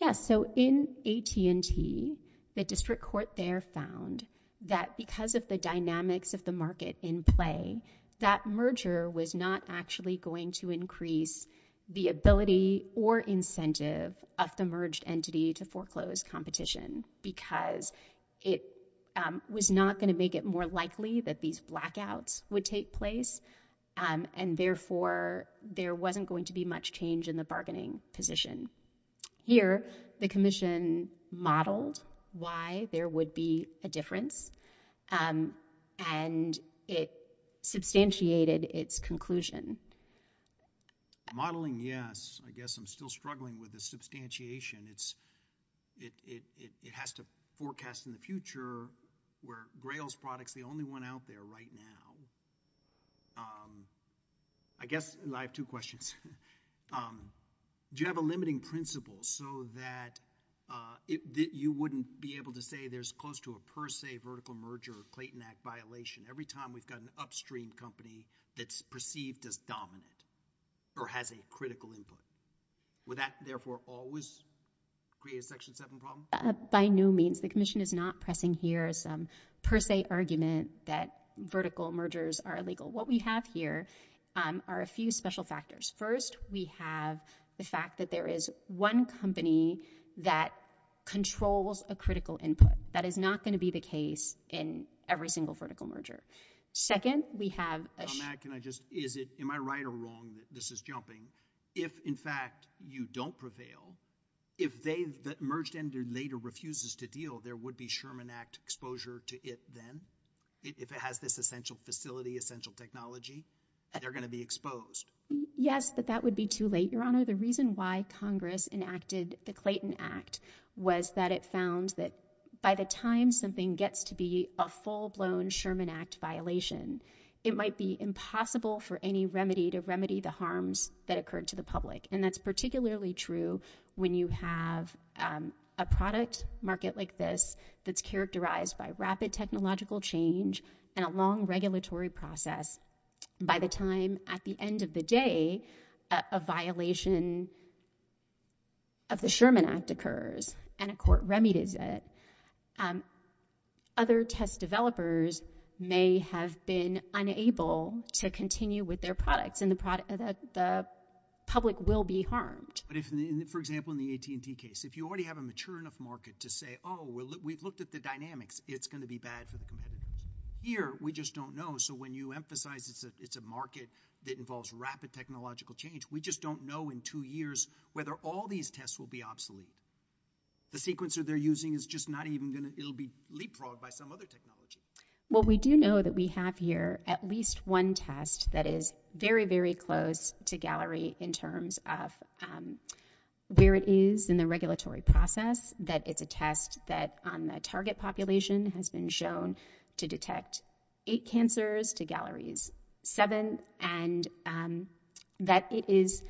Yes. In AT&T, the district court there found that because of the dynamics of the market in play, that merger was not actually going to increase the ability or incentive of the merged entity to foreclose competition because it was not going to make it more likely that these blackouts would take place, and therefore, there wasn't going to be much change in the bargaining position. Here, the commission modeled why there would be a difference, and it substantiated its conclusion. Modeling? Yes. I guess I'm still struggling with the substantiation. It has to forecast in the future where Grail's product's the only one out there right now. I guess I have two questions. Do you have a limiting principle so that you wouldn't be able to say there's close to a per se vertical merger or Clayton Act violation every time we've got an upstream company that's perceived as dominant or has a critical input? Would that, therefore, always create a Section 7 problem? By no means. The commission is not pressing here some per se argument that vertical mergers are illegal. What we have here are a few special factors. First, we have the fact that there is one company that controls a critical input. That is not going to be the case in every single vertical merger. Second, we have a— —that you don't prevail. If they—that Merged Energy later refuses to deal, there would be Sherman Act exposure to it then. If it has this essential facility, essential technology, they're going to be exposed. Yes, but that would be too late, Your Honor. The reason why Congress enacted the Clayton Act was that it found that by the time something gets to be a full-blown Sherman Act violation, it might be impossible for any remedy to remedy the harms that occurred to the public. And that's particularly true when you have a product market like this that's characterized by rapid technological change and a long regulatory process. By the time, at the end of the day, a violation of the Sherman Act occurs and a court remedies it, other test developers may have been unable to continue with their products and the product market, the public will be harmed. For example, in the AT&T case, if you already have a mature enough market to say, oh, we've looked at the dynamics, it's going to be bad for the competitors. Here we just don't know. So when you emphasize it's a market that involves rapid technological change, we just don't know in two years whether all these tests will be obsolete. The sequencer they're using is just not even going to—it'll be leapfrogged by some other technology. Well, we do know that we have here at least one test that is very, very close to Gallery in terms of where it is in the regulatory process, that it's a test that on the target population has been shown to detect eight cancers to Gallery's seven, and that it is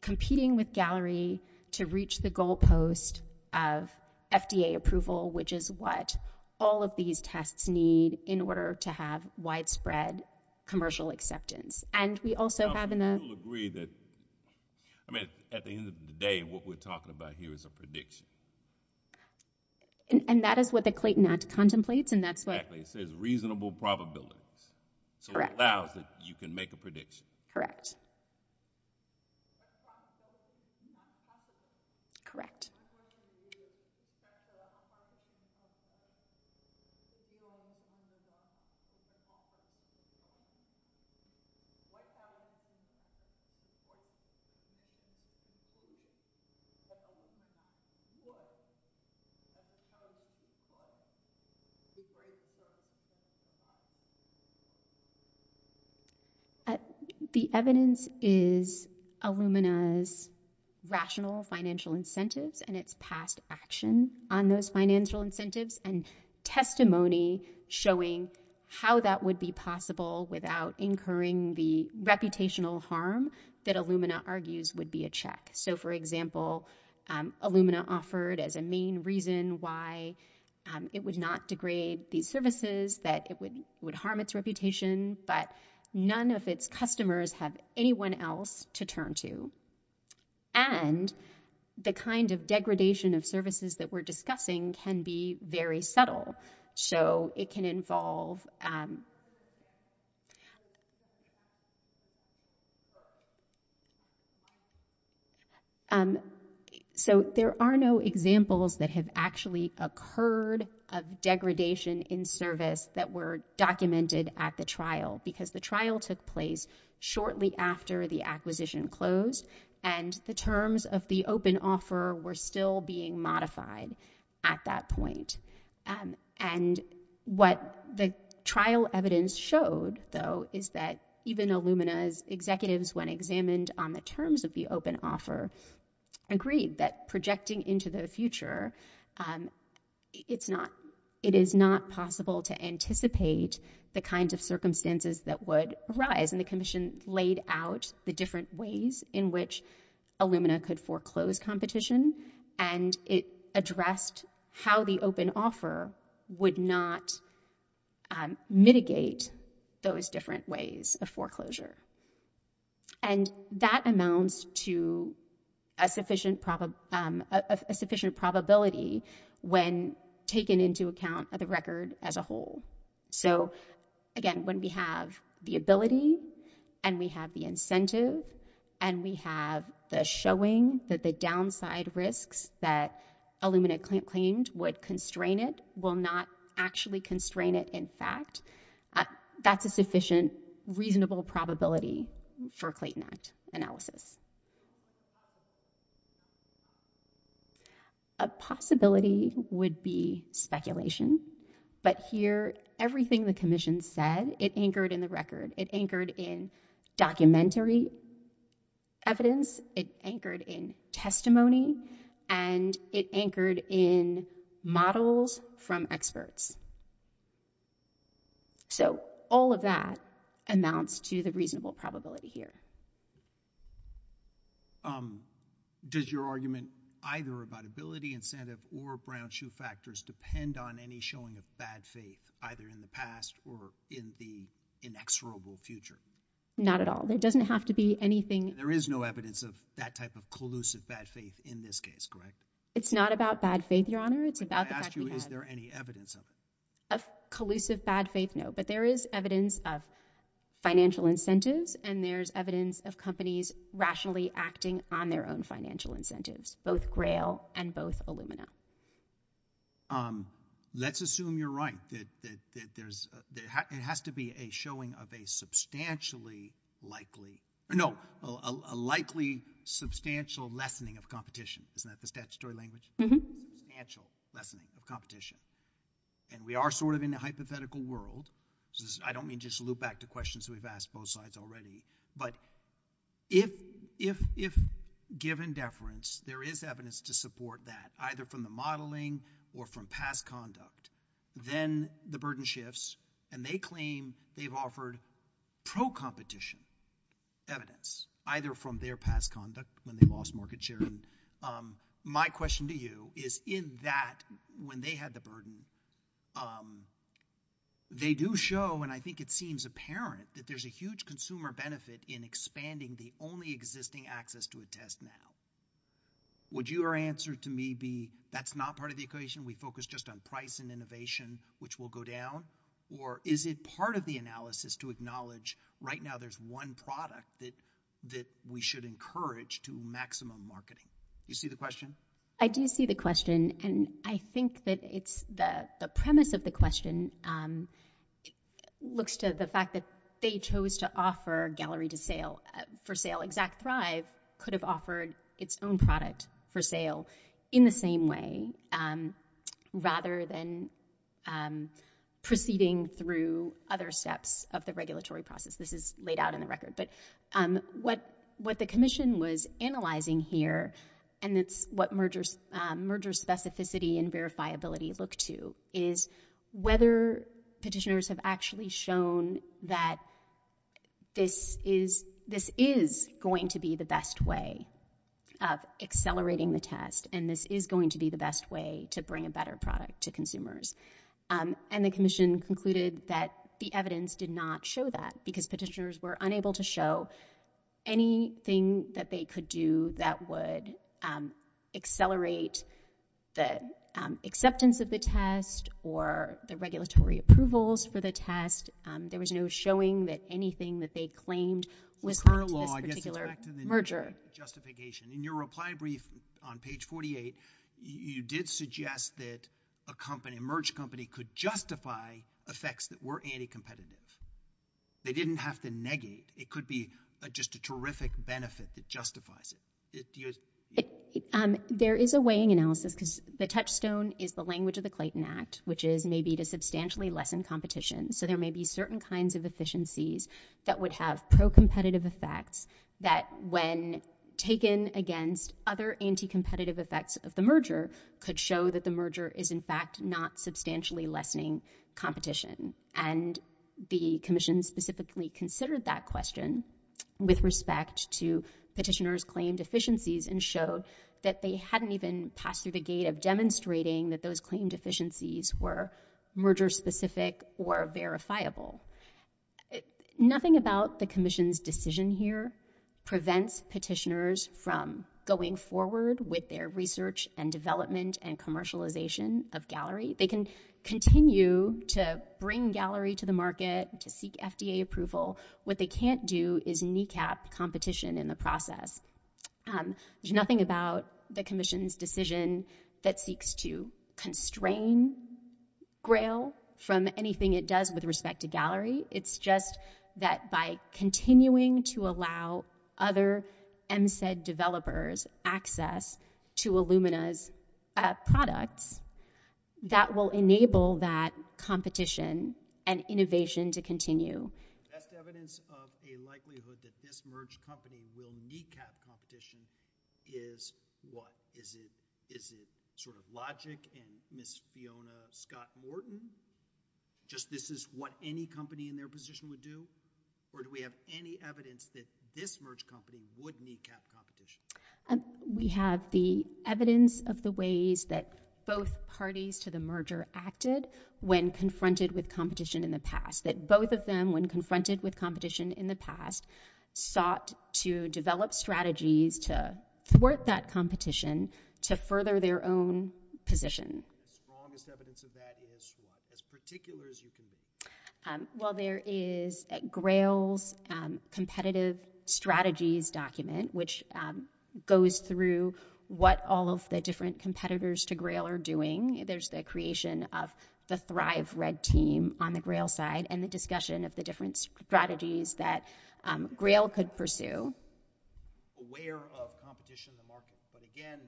competing with Gallery to reach the goalpost of FDA approval, which is what all of these tests need in order to have widespread commercial acceptance. And we also have in the— I mean, at the end of the day, what we're talking about here is a prediction. And that is what the Clayton Act contemplates, and that's what— Exactly. It says reasonable probabilities. Correct. So it allows that you can make a prediction. Correct. So what happens is Illumina's rational financial incentives and its past action on those financial incentives and testimony showing how that would be possible without incurring the reputational harm that Illumina argues would be a check. So for example, Illumina offered as a main reason why it would not degrade these services, that it would harm its reputation, but none of its customers have anyone else to turn to. And the kind of degradation of services that we're discussing can be very subtle. So it can involve— So there are no examples that have actually occurred of degradation in service that were documented at the trial, because the trial took place shortly after the acquisition closed, and the terms of the open offer were still being modified at that point. And what the trial evidence showed, though, is that even Illumina's executives, when examined on the terms of the open offer, agreed that projecting into the future, it is not possible to anticipate the kinds of circumstances that would arise. And the Commission laid out the different ways in which Illumina could foreclose competition, and it addressed how the open offer would not mitigate those different ways of foreclosure. And that amounts to a sufficient probability when taken into account of the record as a whole. So again, when we have the ability, and we have the incentive, and we have the showing that the downside risks that Illumina claimed would constrain it will not actually constrain it in fact, that's a sufficient, reasonable probability for Clayton Act analysis. A possibility would be speculation, but here, everything the Commission said, it anchored in the record, it anchored in documentary evidence, it anchored in testimony, and it So all of that amounts to the reasonable probability here. Does your argument either about ability, incentive, or Brown-Shu factors depend on any showing of bad faith, either in the past or in the inexorable future? Not at all. There doesn't have to be anything. There is no evidence of that type of collusive bad faith in this case, correct? It's not about bad faith, Your Honor. It's about the fact that we have. I asked you, is there any evidence of it? Of collusive bad faith, no, but there is evidence of financial incentives, and there's evidence of companies rationally acting on their own financial incentives, both Grail and both Illumina. Let's assume you're right, that it has to be a showing of a substantially likely, no, a likely substantial lessening of competition, isn't that the statutory language? Mm-hmm. We are sort of in a hypothetical world, which is, I don't mean just to loop back to questions we've asked both sides already, but if given deference, there is evidence to support that, either from the modeling or from past conduct, then the burden shifts, and they claim they've offered pro-competition evidence, either from their past conduct when they lost market share. My question to you is, in that, when they had the burden, they do show, and I think it seems apparent, that there's a huge consumer benefit in expanding the only existing access to a test now. Would your answer to me be, that's not part of the equation? We focus just on price and innovation, which will go down? Or is it part of the analysis to acknowledge, right now there's one product that we should encourage to maximum marketing? You see the question? I do see the question, and I think that it's, the premise of the question looks to the fact that they chose to offer gallery to sale, for sale. Exact Thrive could have offered its own product for sale in the same way, rather than proceeding through other steps of the regulatory process. This is laid out in the record, but what the commission was analyzing here, and it's what merger specificity and verifiability look to, is whether petitioners have actually shown that this is going to be the best way of accelerating the test, and this is going to be the best way to bring a better product to consumers. And the commission concluded that the evidence did not show that, because petitioners were unable to show anything that they could do that would accelerate the acceptance of the test, or the regulatory approvals for the test. There was no showing that anything that they claimed was part of this particular merger. Justification. In your reply brief on page 48, you did suggest that a company, a merge company, could justify effects that were anti-competitive. They didn't have to negate. It could be just a terrific benefit that justifies it. There is a weighing analysis, because the touchstone is the language of the Clayton Act, which is maybe to substantially lessen competition, so there may be certain kinds of efficiencies that would have pro-competitive effects that, when taken against other anti-competitive effects of the merger, could show that the merger is, in fact, not substantially lessening competition. And the commission specifically considered that question with respect to petitioners' claim deficiencies, and showed that they hadn't even passed through the gate of demonstrating that those claim deficiencies were merger-specific or verifiable. Nothing about the commission's decision here prevents petitioners from going forward with their research and development and commercialization of Gallery. They can continue to bring Gallery to the market, to seek FDA approval. What they can't do is kneecap competition in the process. There's nothing about the commission's decision that seeks to constrain Grail from anything it does with respect to Gallery. It's just that by continuing to allow other MSED developers access to Illumina's products, that will enable that competition and innovation to continue. Just evidence of a likelihood that this merged company will kneecap competition is what? Is it sort of logic and Miss Fiona Scott Morton? Just this is what any company in their position would do? Or do we have any evidence that this merged company would kneecap competition? We have the evidence of the ways that both parties to the merger acted when confronted with competition in the past. That both of them, when confronted with competition in the past, sought to develop strategies to thwart that competition, to further their own position. The strongest evidence of that is what? As particular as you can be. Well there is Grail's competitive strategies document, which goes through what all of the different competitors to Grail are doing. There's the creation of the Thrive Red team on the Grail side, and the discussion of the different strategies that Grail could pursue. Aware of competition in the market, but again,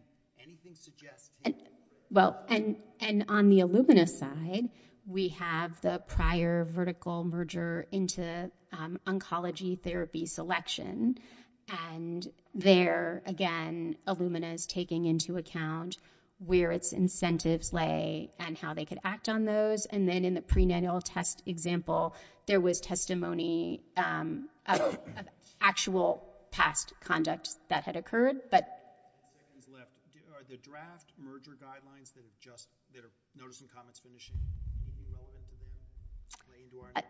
anything suggests he would do it. And on the Illumina side, we have the prior vertical merger into oncology therapy selection. And there, again, Illumina is taking into account where its incentives lay and how they could act on those. And then in the prenatal test example, there was testimony of actual past conduct that had occurred. But... Are the draft merger guidelines that are just, that are notice and comments finishing, anything relevant to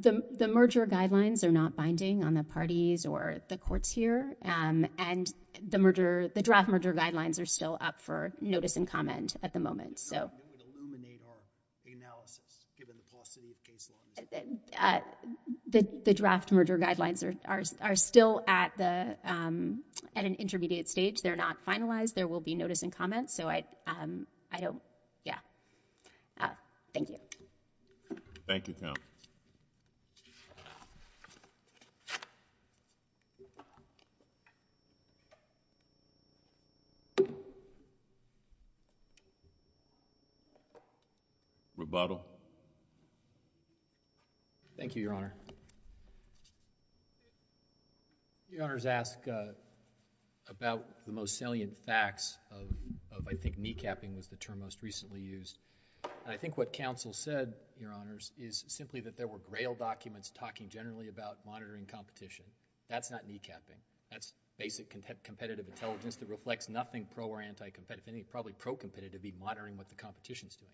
that? The merger guidelines are not binding on the parties or the courts here. And the merger, the draft merger guidelines are still up for notice and comment at the moment. So... It would illuminate our analysis, given the paucity of case law. The draft merger guidelines are still at the, at an intermediate stage. They're not finalized. There will be notice and comments. So I don't... Yeah. Thank you. Thank you, Counsel. Rebuttal. Thank you, Your Honor. Your Honors ask about the most salient facts of, of I think kneecapping was the term most recently used. And I think what Counsel said, Your Honors, is simply that there were grail documents talking generally about monitoring competition. That's not kneecapping. That's basic competitive intelligence that reflects nothing pro or anti-competitive. Probably pro-competitive would be monitoring what the competition's doing.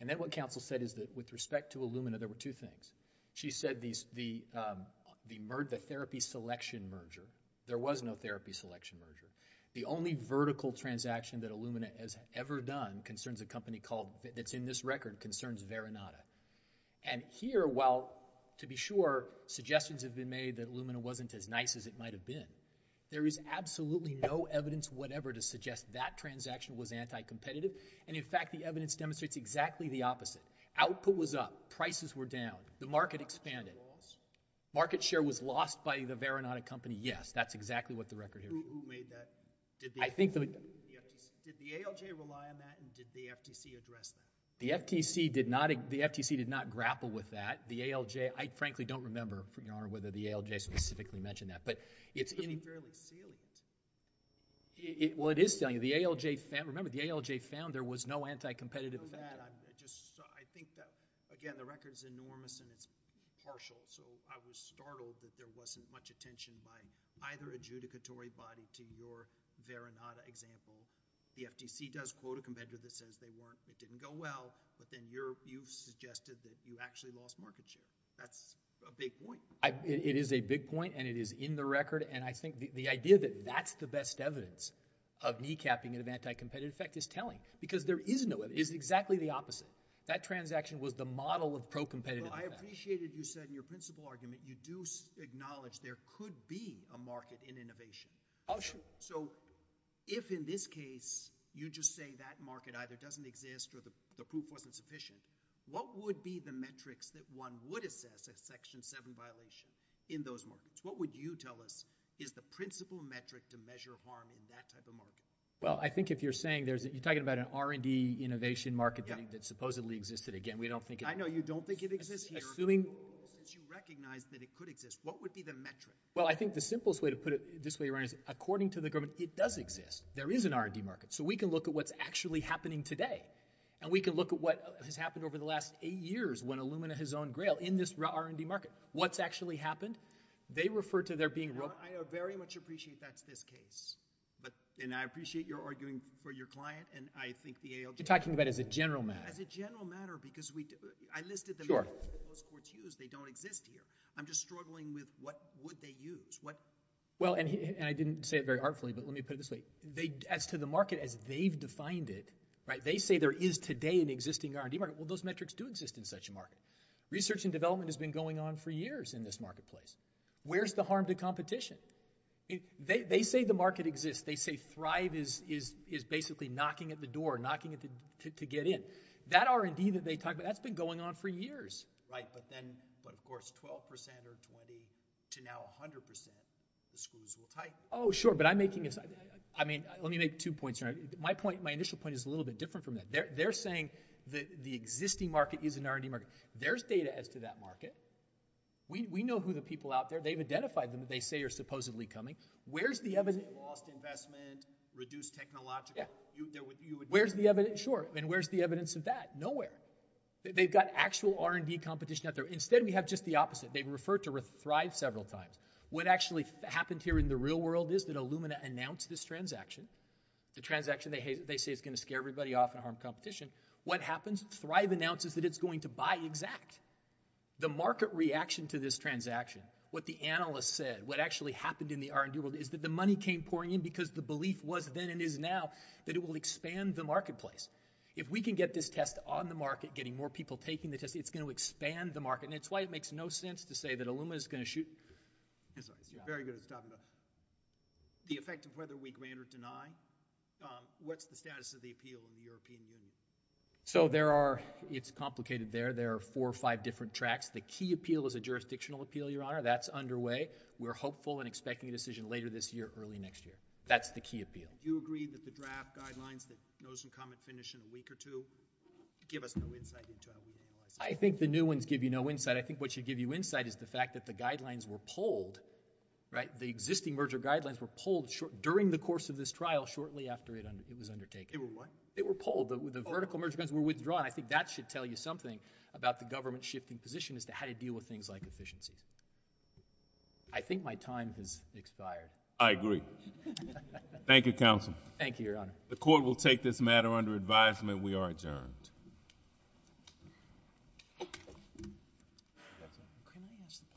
And then what Counsel said is that with respect to Illumina, there were two things. She said these, the, the therapy selection merger. There was no therapy selection merger. The only vertical transaction that Illumina has ever done concerns a company called, that's in this record, concerns Veronata. And here, while to be sure, suggestions have been made that Illumina wasn't as nice as it might have been, there is absolutely no evidence whatever to suggest that transaction was anti-competitive. And in fact, the evidence demonstrates exactly the opposite. Output was up. Prices were down. The market expanded. Market share was lost by the Veronata company. Yes, that's exactly what the record here is. Who, who made that? I think the. Did the ALJ rely on that and did the FTC address that? The FTC did not, the FTC did not grapple with that. The ALJ, I frankly don't remember, Your Honor, whether the ALJ specifically mentioned that. But it's. It's fairly salient. Well, it is salient. The ALJ found, remember, the ALJ found there was no anti-competitive. I know that. I'm just, I think that, again, the record's enormous and it's partial. So, I was startled that there wasn't much attention by either adjudicatory body to your Veronata example. The FTC does quote a competitor that says they weren't, it didn't go well, but then you're, you suggested that you actually lost market share. That's a big point. I, it is a big point and it is in the record and I think the, the idea that that's the best evidence of kneecapping and of anti-competitive effect is telling. Because there is no evidence, it's exactly the opposite. That transaction was the model of pro-competitive effect. I appreciated you said in your principle argument, you do acknowledge there could be a market in innovation. Oh, sure. So, if in this case, you just say that market either doesn't exist or the, the proof wasn't sufficient, what would be the metrics that one would assess a section seven violation in those markets? What would you tell us is the principle metric to measure harm in that type of market? Well, I think if you're saying there's, you're talking about an R&D innovation market that supposedly existed. Again, we don't think. I know you don't think it exists here. Assuming. Since you recognize that it could exist, what would be the metric? Well, I think the simplest way to put it this way, Ryan, is according to the government, it does exist. There is an R&D market. So, we can look at what's actually happening today and we can look at what has happened over the last eight years when Illumina has owned Grail in this R&D market. What's actually happened? They refer to their being. I very much appreciate that's this case. But, and I appreciate your arguing for your client and I think the ALJ. You're talking about as a general matter. As a general matter, because I listed the metrics that most courts use, they don't exist here. I'm just struggling with what would they use? Well, and I didn't say it very artfully, but let me put it this way. As to the market as they've defined it, right? They say there is today an existing R&D market. Well, those metrics do exist in such a market. Research and development has been going on for years in this marketplace. Where's the harm to competition? They say the market exists. They say Thrive is basically knocking at the door, knocking to get in. That R&D that they talk about, that's been going on for years, right? But then, but of course, 12% or 20 to now 100%, the screws will tighten. Oh, sure. But I'm making a, I mean, let me make two points here. My point, my initial point is a little bit different from that. They're saying that the existing market is an R&D market. There's data as to that market. We know who the people out there. They've identified them that they say are supposedly coming. Where's the evidence? Lost investment, reduced technological. Where's the evidence? Sure. And where's the evidence of that? Nowhere. They've got actual R&D competition out there. Instead, we have just the opposite. They've referred to Thrive several times. What actually happened here in the real world is that Illumina announced this transaction. The transaction they say is going to scare everybody off and harm competition. What happens? Thrive announces that it's going to buy Exact. The market reaction to this transaction, what the analysts said, what actually happened in the R&D world is that the money came pouring in because the belief was then and is now that it will expand the marketplace. If we can get this test on the market, getting more people taking the test, it's going to expand the market. And it's why it makes no sense to say that Illumina is going to shoot Exact. Very good. The effect of whether we grant or deny, what's the status of the appeal in the European Union? So there are, it's complicated there. The key appeal is a jurisdictional appeal, Your Honor. That's underway. We're hopeful and expecting a decision later this year, early next year. That's the key appeal. Do you agree that the draft guidelines that notice and comment finish in a week or two give us no insight into how we would analyze it? I think the new ones give you no insight. I think what should give you insight is the fact that the guidelines were pulled, right? The existing merger guidelines were pulled during the course of this trial, shortly after it was undertaken. They were what? They were pulled. The vertical merger guns were withdrawn. I think that should tell you something about the government's shifting position as to how to deal with things like efficiencies. I think my time has expired. I agree. Thank you, Counsel. Thank you, Your Honor. The court will take this matter under advisement. We are adjourned.